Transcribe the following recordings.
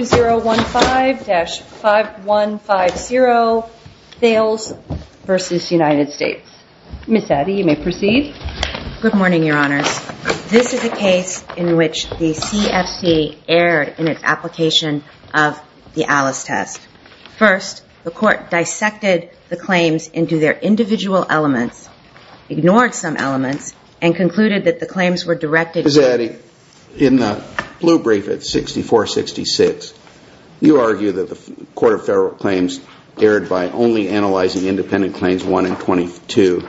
Ms. Addie, you may proceed. Good morning, Your Honors. This is a case in which the CFC erred in its application of the Alice test. First, the court dissected the claims into their individual elements, ignored some elements, and concluded that the claims were directed Ms. Addie, in the blue brief at 6466, you argue that the Court of Federal Claims erred by only analyzing independent claims 1 and 22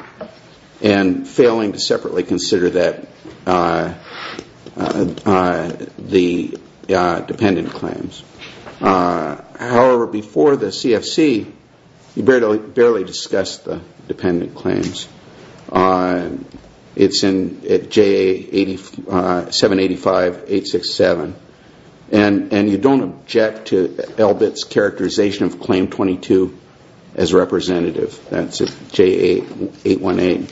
and failing to separately consider the dependent claims. However, before the CFC, you barely discussed the dependent claims. It's in JA 785-867. And you don't object to Elbit's characterization of claim 22 as representative. That's at JA 818.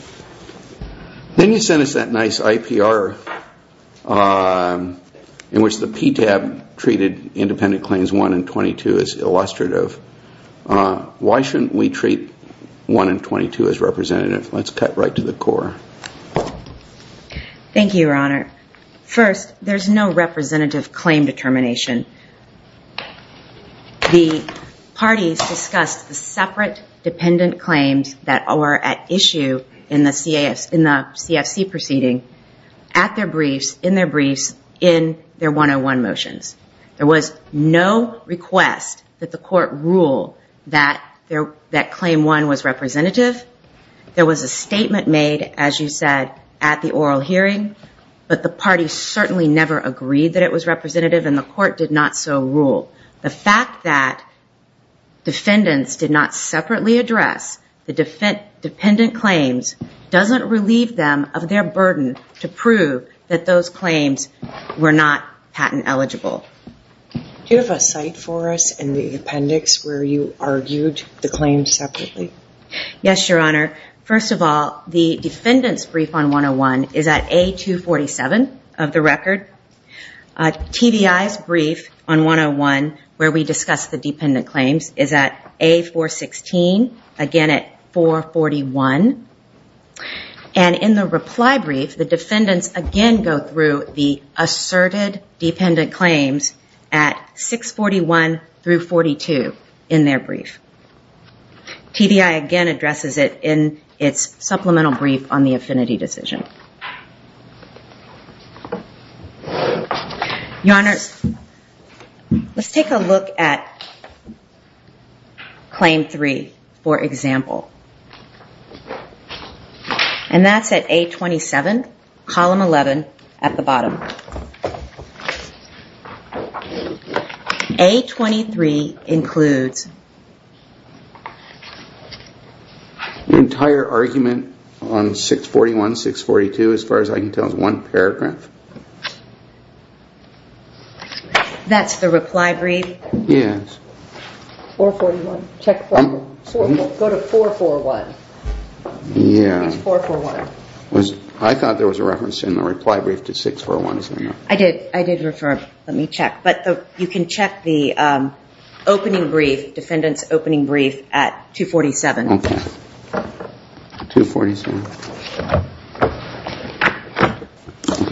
Then you sent us that nice IPR in which the PTAB treated claims 1 and 22 as illustrative. Why shouldn't we treat 1 and 22 as representative? Let's cut right to the core. Thank you, Your Honor. First, there's no representative claim determination. The parties discussed the separate dependent claims that are at issue in the CFC proceeding at their briefs, in their briefs, in their 101 motions. There was no request that the court rule that claim 1 was representative. There was a statement made, as you said, at the oral hearing, but the parties certainly never agreed that it was representative and the court did not so rule. The fact that defendants did not separately address the dependent claims doesn't relieve them of their burden to prove that those claims were not patent eligible. Do you have a site for us in the appendix where you argued the claims separately? Yes, Your Honor. First of all, the defendant's brief on 101 is at A247 of the record. TBI's address the dependent claims is at A416, again at 441. In the reply brief, the defendants again go through the asserted dependent claims at 641 through 42 in their brief. TBI again addresses it in its supplemental brief on the affinity decision. Your Honor, let's take a look at claim 3, for example. And that's at A27, column 11, at the bottom. A23 includes the entire argument on 641, 642, as far as I can tell, is one paragraph. That's the reply brief? Yes. 441, check. Go to 441. Yeah. It's 441. I thought there was a reference in the reply brief to 641. I did. I did refer. Let me check. But you can check the opening brief, defendant's opening brief, at 247. Okay. 247.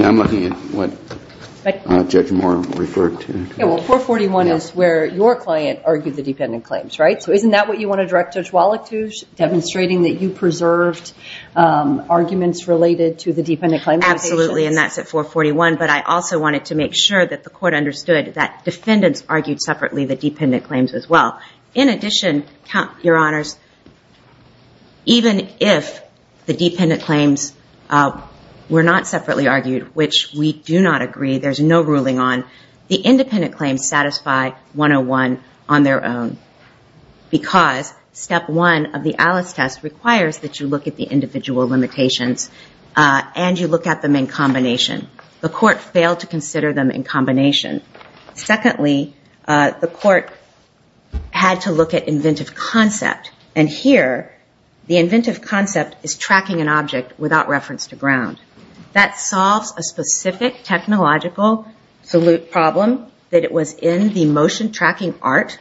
I'm looking at what Judge Moore referred to. Yeah, well, 441 is where your client argued the dependent claims, right? So isn't that what you want to direct Judge Wallach to, demonstrating that you preserved arguments related to the limitations? Absolutely. And that's at 441. But I also wanted to make sure that the court understood that defendants argued separately the dependent claims as well. In addition, count your honors, even if the dependent claims were not separately argued, which we do not agree, there's no ruling on, the independent claims satisfy 101 on their own. Because step one of the Alice test requires that you look at the individual limitations, and you look at them in combination. The court failed to consider them in combination. Secondly, the court had to look at inventive concept. And here, the inventive concept is tracking an object without reference to ground. That solves a specific technological problem that it was in the motion tracking art.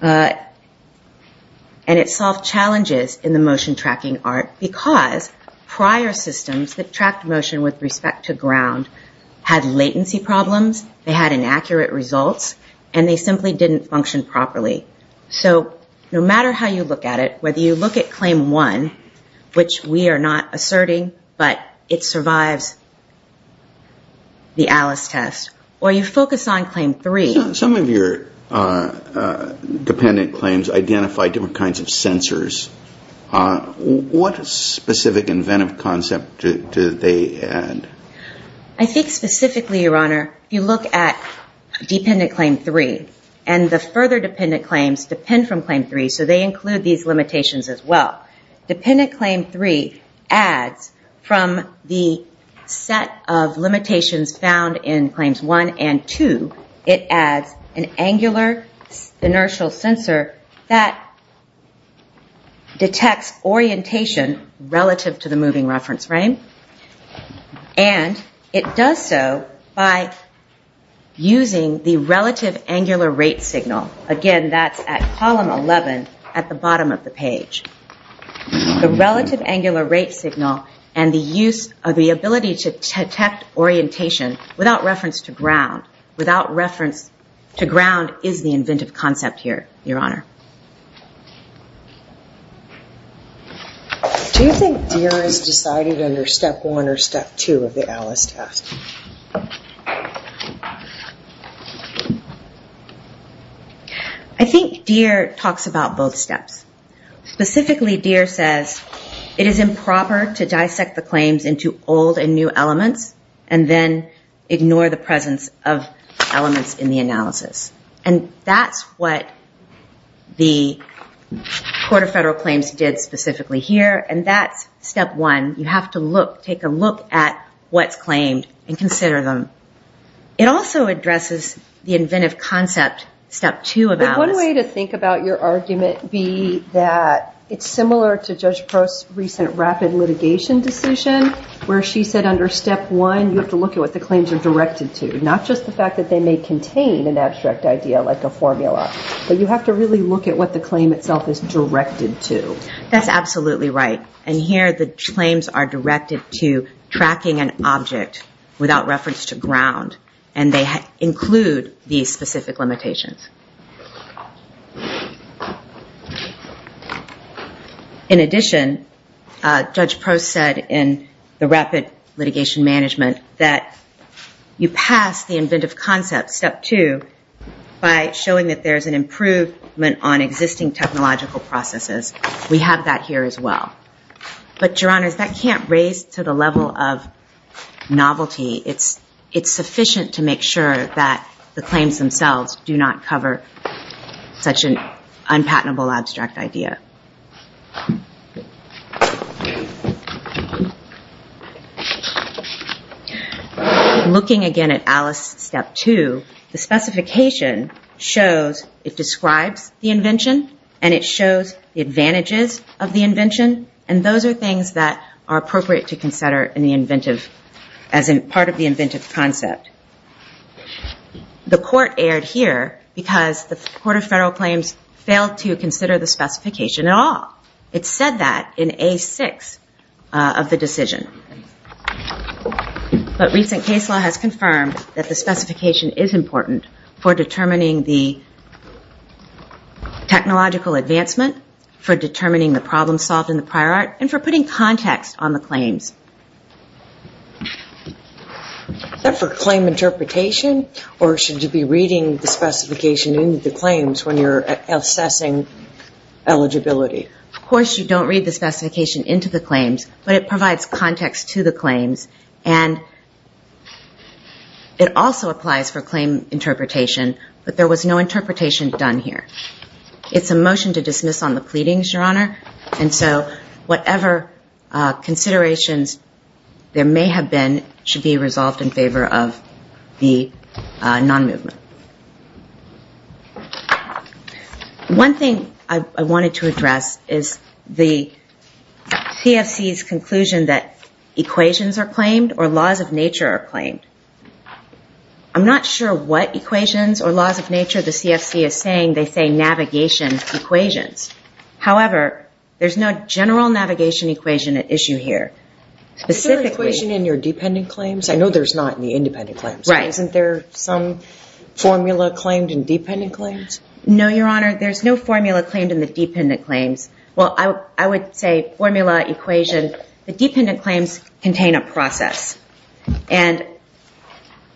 And it solved challenges in the motion tracking art, because prior systems that tracked motion with respect to ground had latency problems, they had inaccurate results, and they simply didn't function properly. So no matter how you look at it, whether you look at claim one, which we are not asserting, but it survives the Alice test, or you focus on claim three. Some of your dependent claims identify different kinds of sensors. What specific inventive concept do they add? I think specifically, your honor, if you look at dependent claim three, and the further dependent claims depend from claim three, so they include these limitations as well. Dependent claim three adds from the set of angular inertial sensor that detects orientation relative to the moving reference frame. And it does so by using the relative angular rate signal. Again, that's at column 11 at the bottom of the page. The relative angular rate signal and the use of the ability to detect orientation without reference to ground. Without reference to ground is the inventive concept here, your honor. Do you think Deere is decided under step one or step two of the Alice test? I think Deere talks about both steps. Specifically, Deere says it is improper to dissect the claims into old and new elements and then ignore the presence of elements in the analysis. And that's what the Court of Federal Claims did specifically here, and that's step one. You have to look, take a look at what's claimed and consider them. It also addresses the inventive concept, step two of Alice. One way to think about your argument would be that it's similar to Judge Prost's recent rapid litigation decision, where she said under step one, you have to look at what the claims are directed to. Not just the fact that they may contain an abstract idea like a formula, but you have to really look at what the claim itself is directed to. That's absolutely right. And here the claims are directed to tracking an object without reference to ground, and they include these specific limitations. In addition, Judge Prost said in the rapid litigation management that you pass the inventive concept, step two, by showing that there's an improvement on existing technological processes. We have that here as well. But, Your Honors, that can't raise to the level of novelty. It's sufficient to make sure that the claims themselves do not cover such an unpatentable abstract idea. So, looking again at Alice, step two, the specification shows, it describes the invention, and it shows the advantages of the invention, and those are things that are appropriate to consider in the inventive, as part of the inventive concept. The court erred here because the Court of Federal Claims failed to consider the specification at all. It said that in A6 of the decision. But recent case law has confirmed that the specification is important for determining the technological advancement, for determining the problem solved in the prior art, and for putting context on the claims. Is that for claim interpretation, or should you be reading the specification into the claims when you're assessing eligibility? Of course you don't read the specification into the claims, but it provides context to the claims, and it also applies for claim interpretation, but there was no interpretation done here. It's a motion to dismiss on the pleadings, Your Honor, and so whatever considerations there may have been should be resolved in favor of the non-movement. One thing I wanted to address is the CFC's conclusion that equations are claimed or laws of nature are claimed. I'm not sure what equations or laws of nature the CFC is saying. They say navigation equations. However, there's no general navigation equation at issue here. Is there an equation in your dependent claims? I know there's not in the independent claims. Right. Isn't there some formula claimed in dependent claims? No, Your Honor. There's no formula claimed in the dependent claims. Well, I would say formula, equation. The dependent claims contain a process, and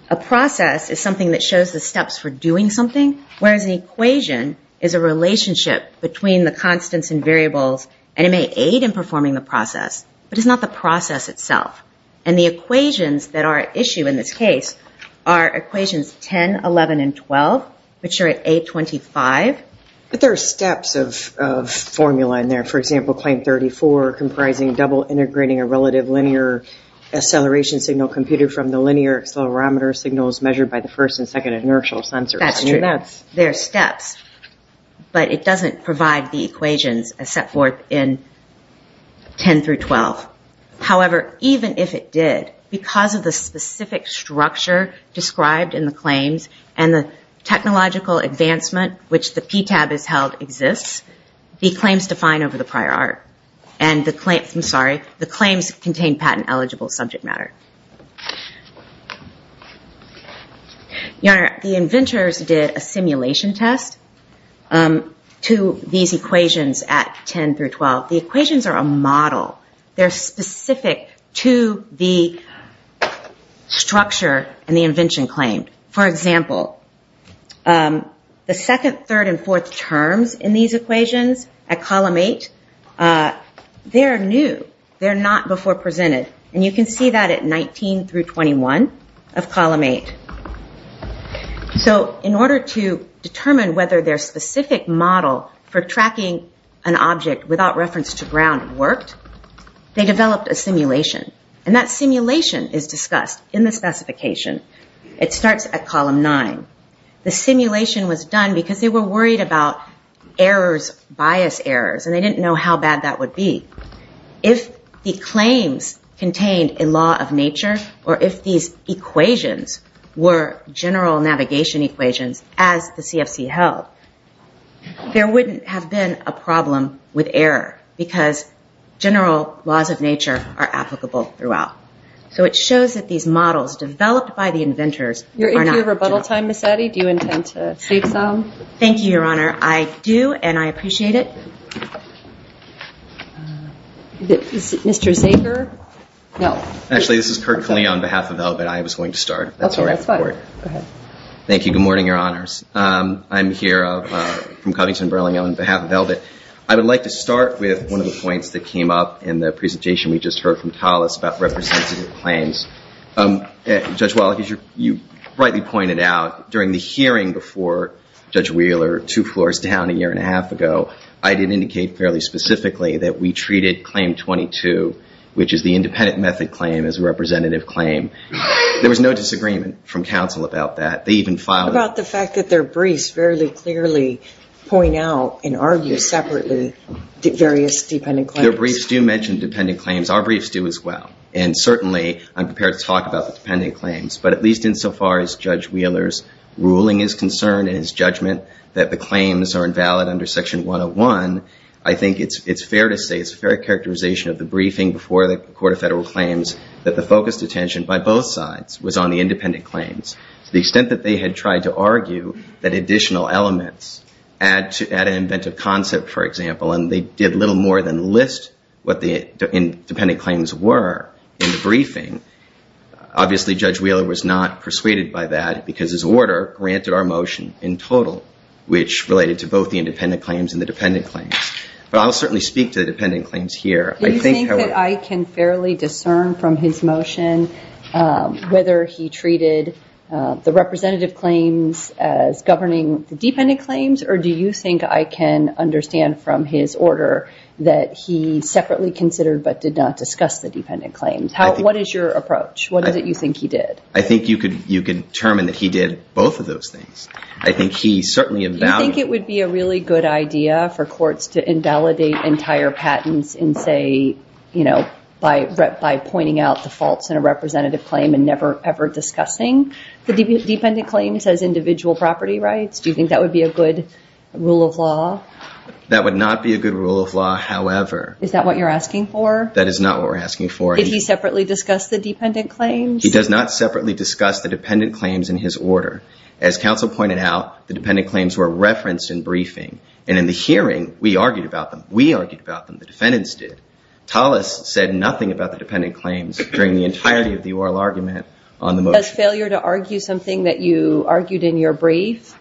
a process is something that shows the steps for doing something, whereas an equation is a relationship between the constants and variables, and it may aid in performing the process, but it's not the process itself. And the equations that are at issue in this case are equations 10, 11, and 12, which are at A25. But there are steps of formula in there. For example, claim 34 comprising double integrating a relative linear acceleration signal computed from the linear accelerometer signals measured by the first and second inertial sensors. There are steps, but it doesn't provide the equations as set forth in 10 through 12. However, even if it did, because of the specific structure described in the claims, and the technological advancement which the PTAB has held exists, the claims define over the prior art. And the claims, I'm sorry, the claims contain patent eligible subject matter. You know, the inventors did a simulation test to these equations at 10 through 12. The equations are a model. They're specific to the structure and the invention claimed. For example, the second, third, and fourth terms in these equations at column eight, they're new. They're not before presented. And you can see that at 19 through 21 of column eight. So in order to determine whether their specific model for tracking an object without reference to ground worked, they developed a simulation. And that simulation is discussed in the specification. It starts at column nine. The simulation was done because they were worried about errors, bias errors, and they didn't know how bad that would be. If the claims contained a law of nature, or if these equations were general navigation equations as the CFC held, there wouldn't have been a problem with error, because general laws of nature are applicable throughout. So it shows that these models developed by the inventors are not general. If you have rebuttal time, Ms. Eddy, do you intend to speak some? Thank you, Your Honor. I do, and I appreciate it. Mr. Zager? Actually, this is Kurt Calino on behalf of VELVET. I was going to start. Thank you. Good morning, Your Honors. I'm here from Coddington-Burlingham on behalf of VELVET. I would like to start with one of the points that came up in the presentation we just heard from Thales about representative claims. Judge Wallach, as you rightly pointed out, during the hearing before Judge Wheeler, two floors down a year and a half ago, I did indicate fairly specifically that we treated Claim 22, which is the independent method claim, as a representative claim. There was no disagreement from counsel about that. They even filed— About the fact that their briefs fairly clearly point out and argue separately various dependent claims. Their briefs do mention dependent claims. Our briefs do as well. And certainly, I'm prepared to talk about the dependent claims, but at least insofar as Judge Wheeler's concern and his judgment that the claims are invalid under Section 101, I think it's fair to say it's a fair characterization of the briefing before the Court of Federal Claims that the focused attention by both sides was on the independent claims. To the extent that they had tried to argue that additional elements add an inventive concept, for example, and they did little more than list what the independent claims were in the briefing. Obviously, Judge Wheeler was not persuaded by that because his order granted our motion in total, which related to both the independent claims and the dependent claims. But I'll certainly speak to the dependent claims here. I think, however— Do you think that I can fairly discern from his motion whether he treated the representative claims as governing the dependent claims, or do you think I can understand from his order that he separately considered but did not discuss the dependent claims? What is your approach? What is it you think he did? I think you can determine that he did both of those things. I think he certainly— Do you think it would be a really good idea for courts to invalidate entire patents and say, you know, by pointing out the faults in a representative claim and never ever discussing the dependent claims as individual property rights? Do you think that would be a good rule of law? That would not be a good rule of law, however— Is that what you're asking for? That is not what we're asking for. Did he separately discuss the dependent claims? He does not separately discuss the dependent claims in his order. As counsel pointed out, the dependent claims were referenced in briefing, and in the hearing, we argued about them. We argued about them. The defendants did. Tallis said nothing about the dependent claims during the entirety of the oral argument on the motion. Does failure to argue something that you argued in your brief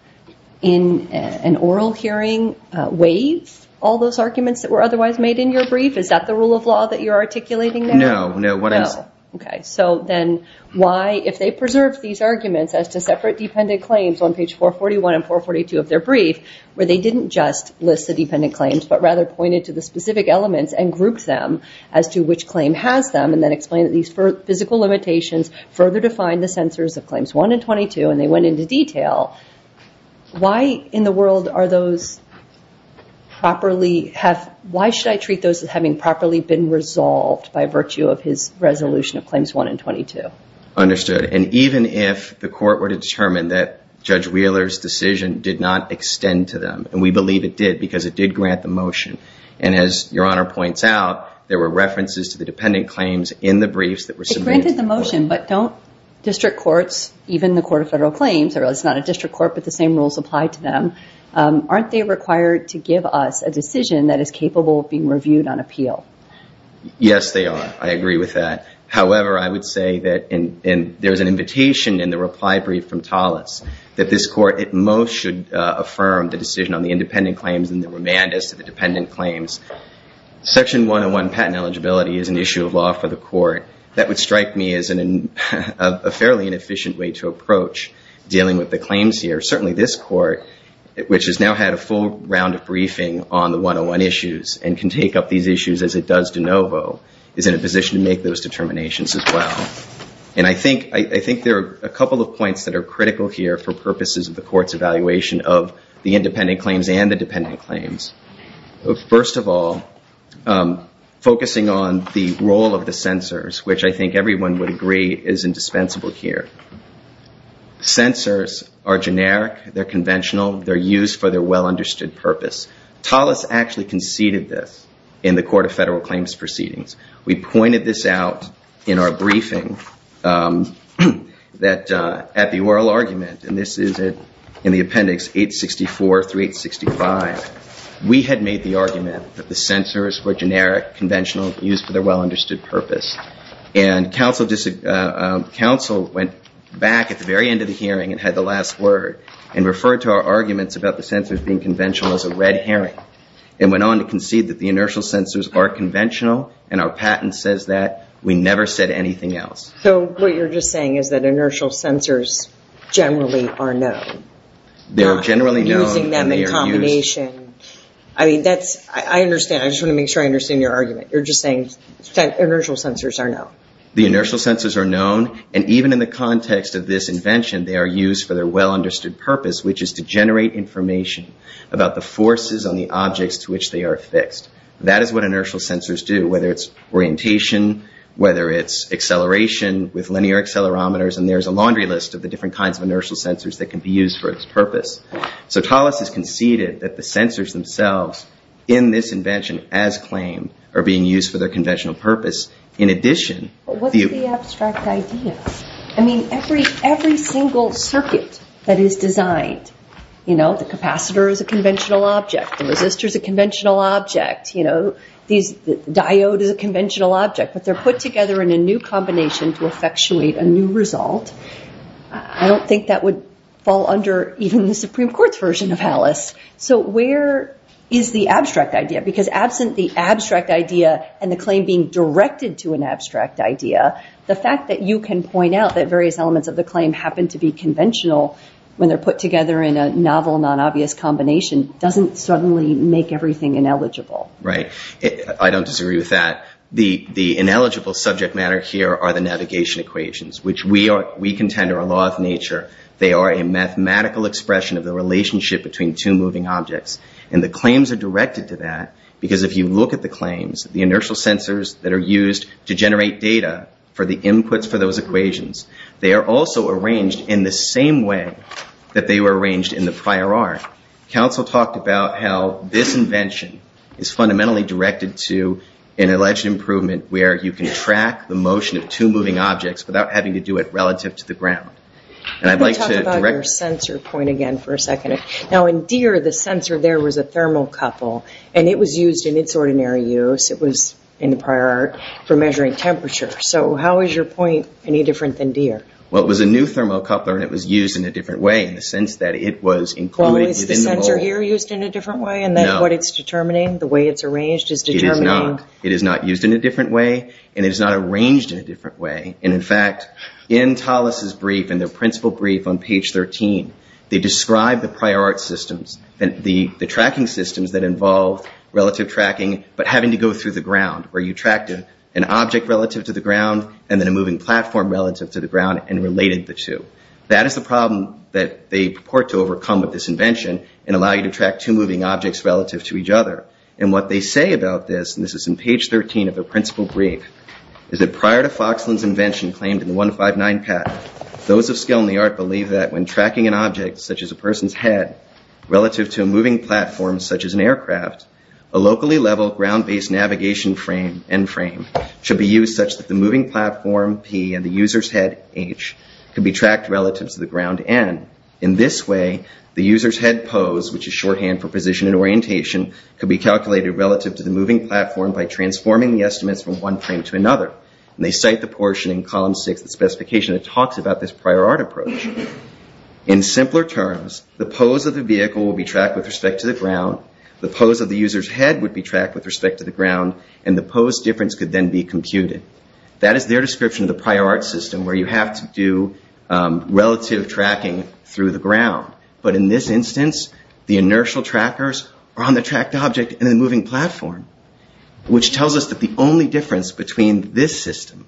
in an oral hearing waive all those arguments that were otherwise made in your brief? Is that the rule of law that you're articulating now? No, no. No. Okay. So then why, if they preserved these arguments as to separate dependent claims on page 441 and 442 of their brief, where they didn't just list the dependent claims, but rather pointed to the specific elements and grouped them as to which claim has them, and then explained that these physical limitations further define the censors of claims 1 and 22, and they went into detail, why in the world are those properly—why should I treat those as having properly been resolved by virtue of his resolution of claims 1 and 22? Understood. And even if the court were to determine that Judge Wheeler's decision did not extend to them, and we believe it did because it did grant the motion, and as Your Honor points out, there were references to the dependent claims in the briefs that were submitted to the court. It granted the motion, but don't district courts, even the Court of Federal Claims—or it's not a district court, but the same rules apply to them—aren't they required to give us a decision that is capable of being reviewed on appeal? Yes, they are. I agree with that. However, I would say that—and there's an invitation in the reply brief from Tallis—that this court at most should affirm the decision on the independent claims and the remand as to the dependent claims. Section 101, patent eligibility, is an issue of law for the court. That would strike me as a fairly inefficient way to approach dealing with the claims here. Certainly this court, which has now had a full round of briefing on the 101 issues and can take up these issues as it does de novo, is in a position to make those determinations as well. And I think there are a couple of points that are critical here for purposes of the court's evaluation of the independent claims and the dependent claims. First of all, focusing on the role of the censors, which I think everyone would agree is indispensable here. Censors are generic, they're conventional, they're used for their well-understood purpose. Tallis actually conceded this in the Court of Federal Claims Proceedings. We pointed this out in our briefing that at the oral argument—and this is in the appendix 864 through 865—we had made the argument that the censors were generic, conventional, used for their well-understood purpose. And counsel went back at the very end of the hearing and had the last word and referred to our arguments about the censors being conventional as a red herring and went on to concede that the inertial censors are conventional, and our patent says that. We never said anything else. So what you're just saying is that inertial censors generally are known? They're generally known and they are used— Not using them in combination. I mean, that's—I understand. I just want to make sure I understand your argument. You're just saying inertial censors are known? The inertial censors are known, and even in the context of this invention, they are used for their well-understood purpose, which is to generate information about the forces on the objects to which they are affixed. That is what inertial censors do, whether it's orientation, whether it's acceleration with linear accelerometers, and there's a laundry list of the different kinds of inertial censors that can be used for its purpose. So Tallis has conceded that the censors themselves in this invention as claimed are being used for their conventional purpose. In addition— But what's the abstract idea? I mean, every single circuit that is designed, you know, the capacitor is a conventional object, the resistor is a conventional object, you know, these—the diode is a conventional object, but they're put together in a new combination to effectuate a new result. I don't think that would fall under even the Supreme Court's version of Tallis. So where is the abstract idea? Because absent the abstract idea and the claim being directed to an abstract idea, the fact that you can point out that various elements of the claim happen to be conventional when they're put together in a novel, non-obvious combination doesn't suddenly make everything ineligible. Right. I don't disagree with that. The ineligible subject matter here are the navigation equations, which we contend are a law of nature. They are a mathematical expression of the relationship between two moving objects. And the claims are directed to that because if you look at the claims, the inertial censors that are used to generate data for the inputs for those equations, they are also arranged in the same way that they were arranged in the prior art. Counsel talked about how this invention is fundamentally directed to an alleged improvement where you can track the motion of two moving objects without having to do it relative to the ground. Let me talk about your sensor point again for a second. Now in Deere, the sensor there was a thermocouple, and it was used in its ordinary use. It was in the prior art for measuring temperature. So how is your point any different than Deere? Well, it was a new thermocoupler, and it was used in a different way in the sense that it was included within the novel. Well, is the sensor here used in a different way in that what it's determining, the way it's arranged is determining? It is not. It is not used in a different way, and it is not arranged in a different way. And in fact, in Tallis' brief, in the principal brief on page 13, they describe the prior art systems, the tracking systems that involve relative tracking but having to go through the ground where you tracked an object relative to the ground and then a moving platform relative to the ground and related the two. That is the problem that they purport to overcome with this invention and allow you to track two moving objects relative to each other. And what they say about this, and this is in page 13 of the principal brief, is that prior to Foxland's invention claimed in the 159 patent, those of skill in the art believe that when tracking an object such as a person's head relative to a moving platform such as an aircraft, a locally level ground-based navigation frame, N-frame, should be used such that the moving platform, P, and the user's head, H, can be tracked relative to the ground, N. In this way, the user's head pose, which is shorthand for position and calculated relative to the moving platform by transforming the estimates from one frame to another. And they cite the portion in column 6 of the specification that talks about this prior art approach. In simpler terms, the pose of the vehicle will be tracked with respect to the ground, the pose of the user's head would be tracked with respect to the ground, and the pose difference could then be computed. That is their description of the prior art system where you have to do relative tracking through the ground. But in this instance, the inertial trackers are on the tracked object and the moving platform, which tells us that the only difference between this system,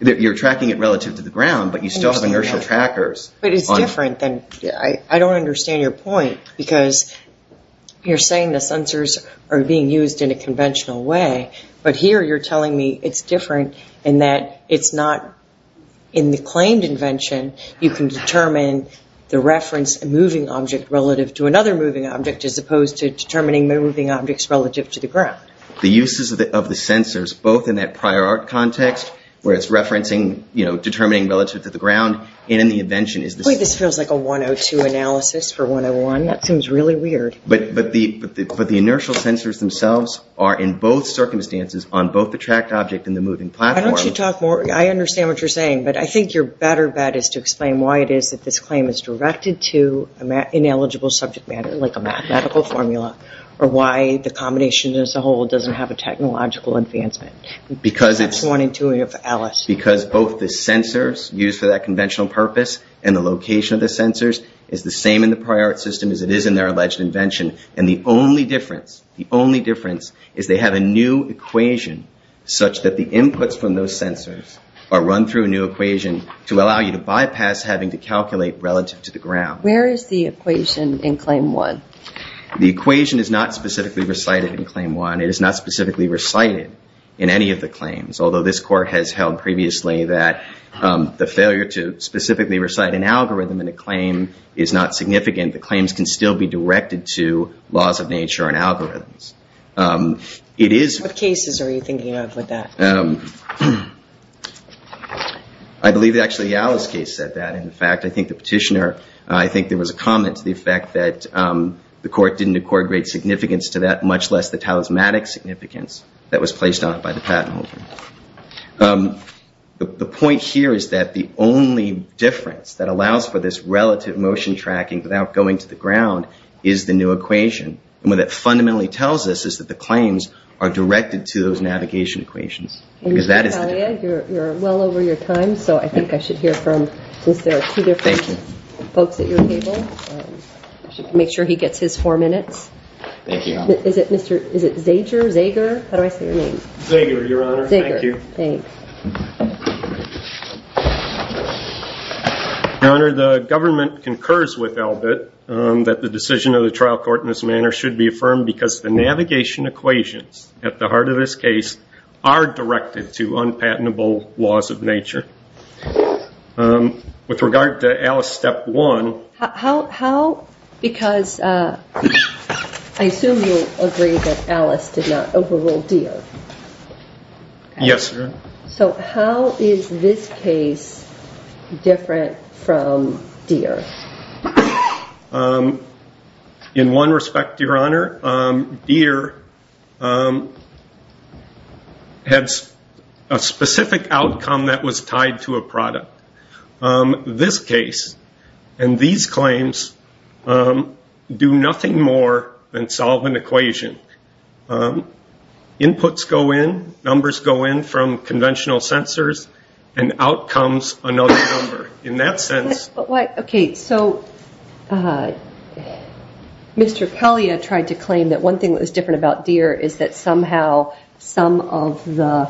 that you're tracking it relative to the ground, but you still have inertial trackers. But it's different than, I don't understand your point, because you're saying the sensors are being used in a conventional way, but here you're telling me it's different in that it's not, in the claimed invention, you can determine the reference moving object relative to another moving object as opposed to determining moving objects relative to the ground. The uses of the sensors, both in that prior art context, where it's referencing, you know, determining relative to the ground, and in the invention. Wait, this feels like a 102 analysis for 101. That seems really weird. But the inertial sensors themselves are in both circumstances on both the tracked object and the moving platform. Why don't you talk more, I understand what you're saying, but I think your better bet is to explain why it is that this claim is directed to an ineligible subject matter, like a mathematical formula, or why the combination as a whole doesn't have a technological advancement. Because both the sensors used for that conventional purpose and the location of the sensors is the same in the prior art system as it is in their alleged invention. And the only difference, the only difference is they have a new equation such that the inputs from those sensors are run through a new equation to allow you to bypass having to calculate relative to the ground. Where is the equation in claim one? The equation is not specifically recited in claim one. It is not specifically recited in any of the claims, although this court has held previously that the failure to specifically recite an algorithm in a claim is not significant. The claims can still be directed to laws of nature and algorithms. It is... What cases are you thinking of with that? I believe that actually Alice's case said that. In fact, I think the petitioner, I think there was a comment to the effect that the court didn't accord great significance to that, much less the talismanic significance that was placed on it by the patent holder. The point here is that the only difference that allows for this relative motion tracking without going to the ground is the new equation. And what that fundamentally tells us is that the claims are directed to those navigation equations. And Mr. Talia, you're well over your time, so I think I should hear from, since there are two different folks at your table, I should make sure he gets his four minutes. Thank you. Is it Mr. Zager? How do I say your name? Zager, Your Honor. Zager. Thank you. Your Honor, the government concurs with Elbit that the decision of the trial court in this manner should be affirmed because the navigation equations at the heart of this case are directed to unpatentable laws of nature. With regard to Alice step one... Because I assume you agree that Alice did not overrule Deere. Yes, Your Honor. So how is this case different from Deere? In one respect, Your Honor, Deere had a specific outcome that was tied to a product. This case and these claims do nothing more than solve an equation. Inputs go in, numbers go in from conventional sensors, and out comes another number. In that sense... Okay, so Mr. Kalia tried to claim that one thing that was different about Deere is that somehow some of the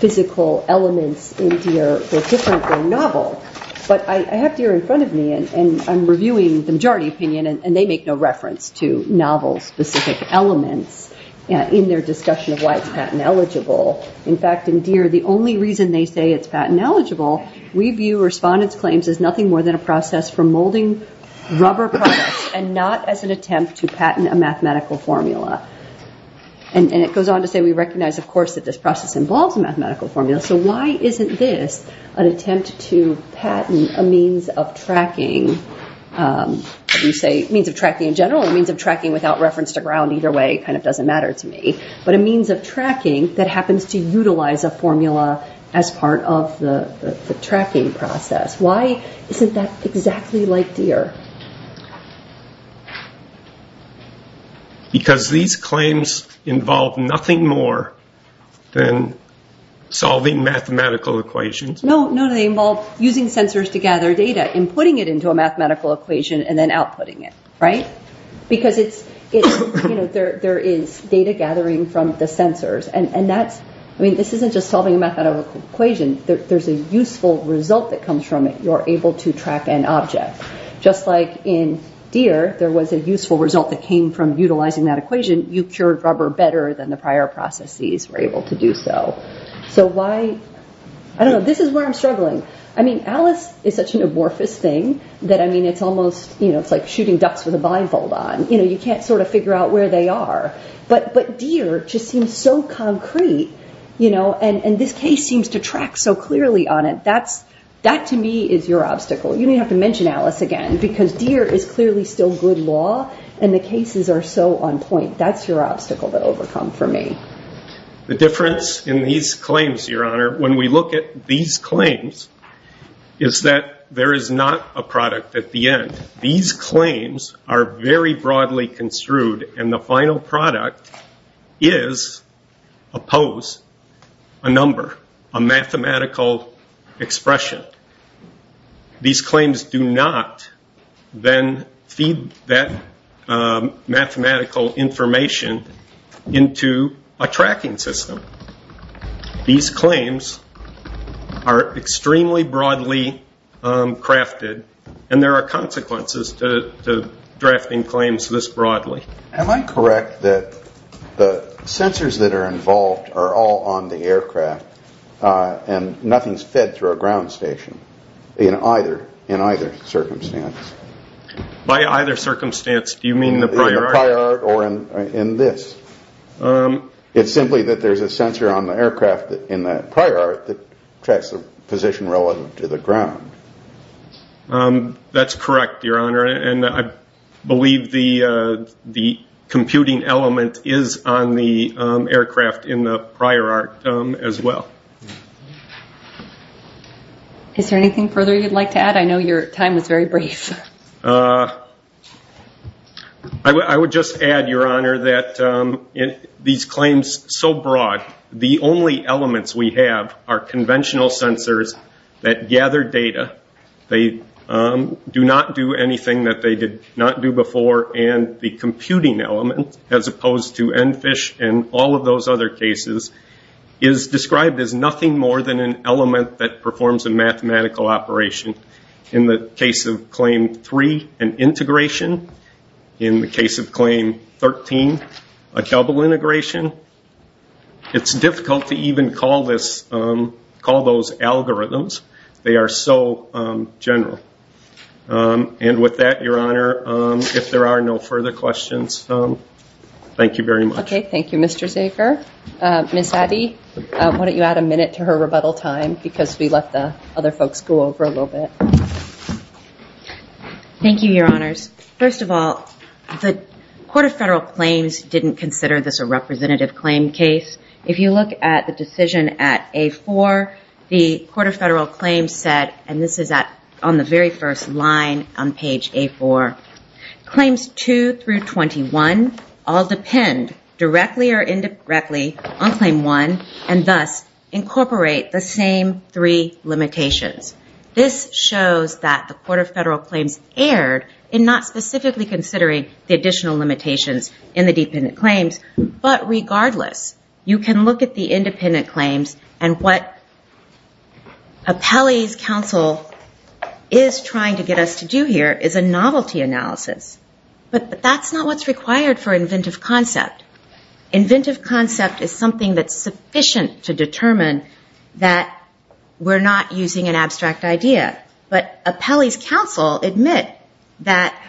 physical elements in Deere were different than novel. But I have Deere in front of me, and I'm reviewing the majority opinion, and they make no reference to novel specific elements in their discussion of why it's patent eligible. In fact, in Deere, the only reason they say it's patent eligible, we view respondents' claims as nothing more than a process for molding rubber products, and not as an attempt to patent a mathematical formula. And it goes on to say, we recognize, of course, that this process involves a mathematical formula. So why isn't this an attempt to patent a means of tracking? You say means of tracking in general, a means of tracking without reference to ground, either way, kind of doesn't matter to me. But a means of tracking that happens to utilize a formula as part of the tracking process. Why isn't that exactly like Deere? Because these claims involve nothing more than solving mathematical equations. No, no, they involve using sensors to gather data, and putting it into a mathematical equation, and then outputting it, right? Because there is data gathering from the sensors, and that's, I mean, this isn't just solving a mathematical equation. There's a useful result that comes from it. You're able to track an object. Just like in Deere, there was a useful result that came from utilizing that equation. You cured rubber better than the prior processes were able to do so. So why, I don't know, this is where I'm struggling. I mean, Alice is such an amorphous thing, that, I mean, it's almost, you know, it's like shooting ducks with a blindfold on. You know, you can't sort of figure out where they are. But Deere just seems so concrete, you know, and this case seems to track so clearly on it. That, to me, is your obstacle. You don't even have to mention Alice again, because Deere is clearly still good law, and the cases are so on point. That's your obstacle to overcome for me. The difference in these claims, Your Honor, when we look at these claims, is that there is not a product at the end. These claims are very broadly construed, and the final product is a pose, a number, a mathematical expression. These claims do not then feed that mathematical information into a tracking system. These claims are extremely broadly crafted, and there are consequences to drafting claims this broadly. Am I correct that the sensors that are involved are all on the aircraft, and nothing is fed through a ground station in either circumstance? By either circumstance, do you mean the prior? Or in this? It's simply that there's a sensor on the aircraft in that prior that tracks the position relative to the ground. That's correct, Your Honor, and I believe the computing element is on the aircraft in the prior arc as well. Is there anything further you'd like to add? I know your time is very brief. I would just add, Your Honor, that these claims, so broad, the only elements we have are conventional sensors that gather data. They do not do anything that they did not do before, and the computing element, as opposed to NFISH and all of those other cases, is described as nothing more than an element that in the case of Claim 3, an integration. In the case of Claim 13, a double integration. It's difficult to even call those algorithms. They are so general. And with that, Your Honor, if there are no further questions, thank you very much. Okay, thank you, Mr. Zaker. Ms. Addy, why don't you add a minute to her rebuttal time, because we let the other folks go over a little bit. Thank you, Your Honors. First of all, the Court of Federal Claims didn't consider this a representative claim case. If you look at the decision at A4, the Court of Federal Claims said, and this is on the very first line on page A4, Claims 2 through 21 all depend directly or three limitations. This shows that the Court of Federal Claims erred in not specifically considering the additional limitations in the dependent claims, but regardless, you can look at the independent claims and what Appellee's counsel is trying to get us to do here is a novelty analysis. But that's not what's required for inventive concept. Inventive concept is something that's sufficient to determine that we're not using an abstract idea. But Appellee's counsel admit that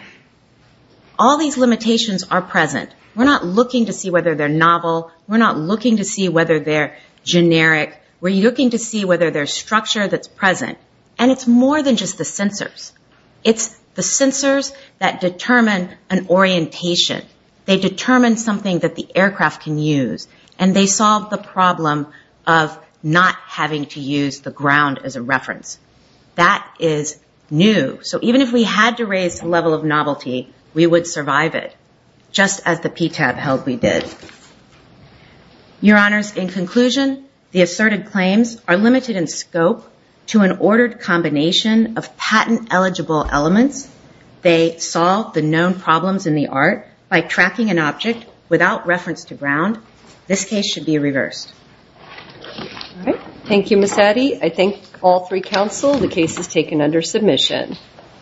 all these limitations are present. We're not looking to see whether they're novel. We're not looking to see whether they're generic. We're looking to see whether there's structure that's present. And it's more than just the censors. It's the censors that determine an orientation. They determine something that the aircraft can use, and they solve the problem of not having to use the ground as a reference. That is new. So even if we had to raise the level of novelty, we would survive it, just as the PTAB held we did. Your Honors, in conclusion, the asserted claims are limited in scope to an ordered combination of patent-eligible elements. They solve the known problems in the art by tracking an object without reference to ground. This case should be reversed. Thank you, Ms. Addy. I thank all three counsel. The case is taken under submission.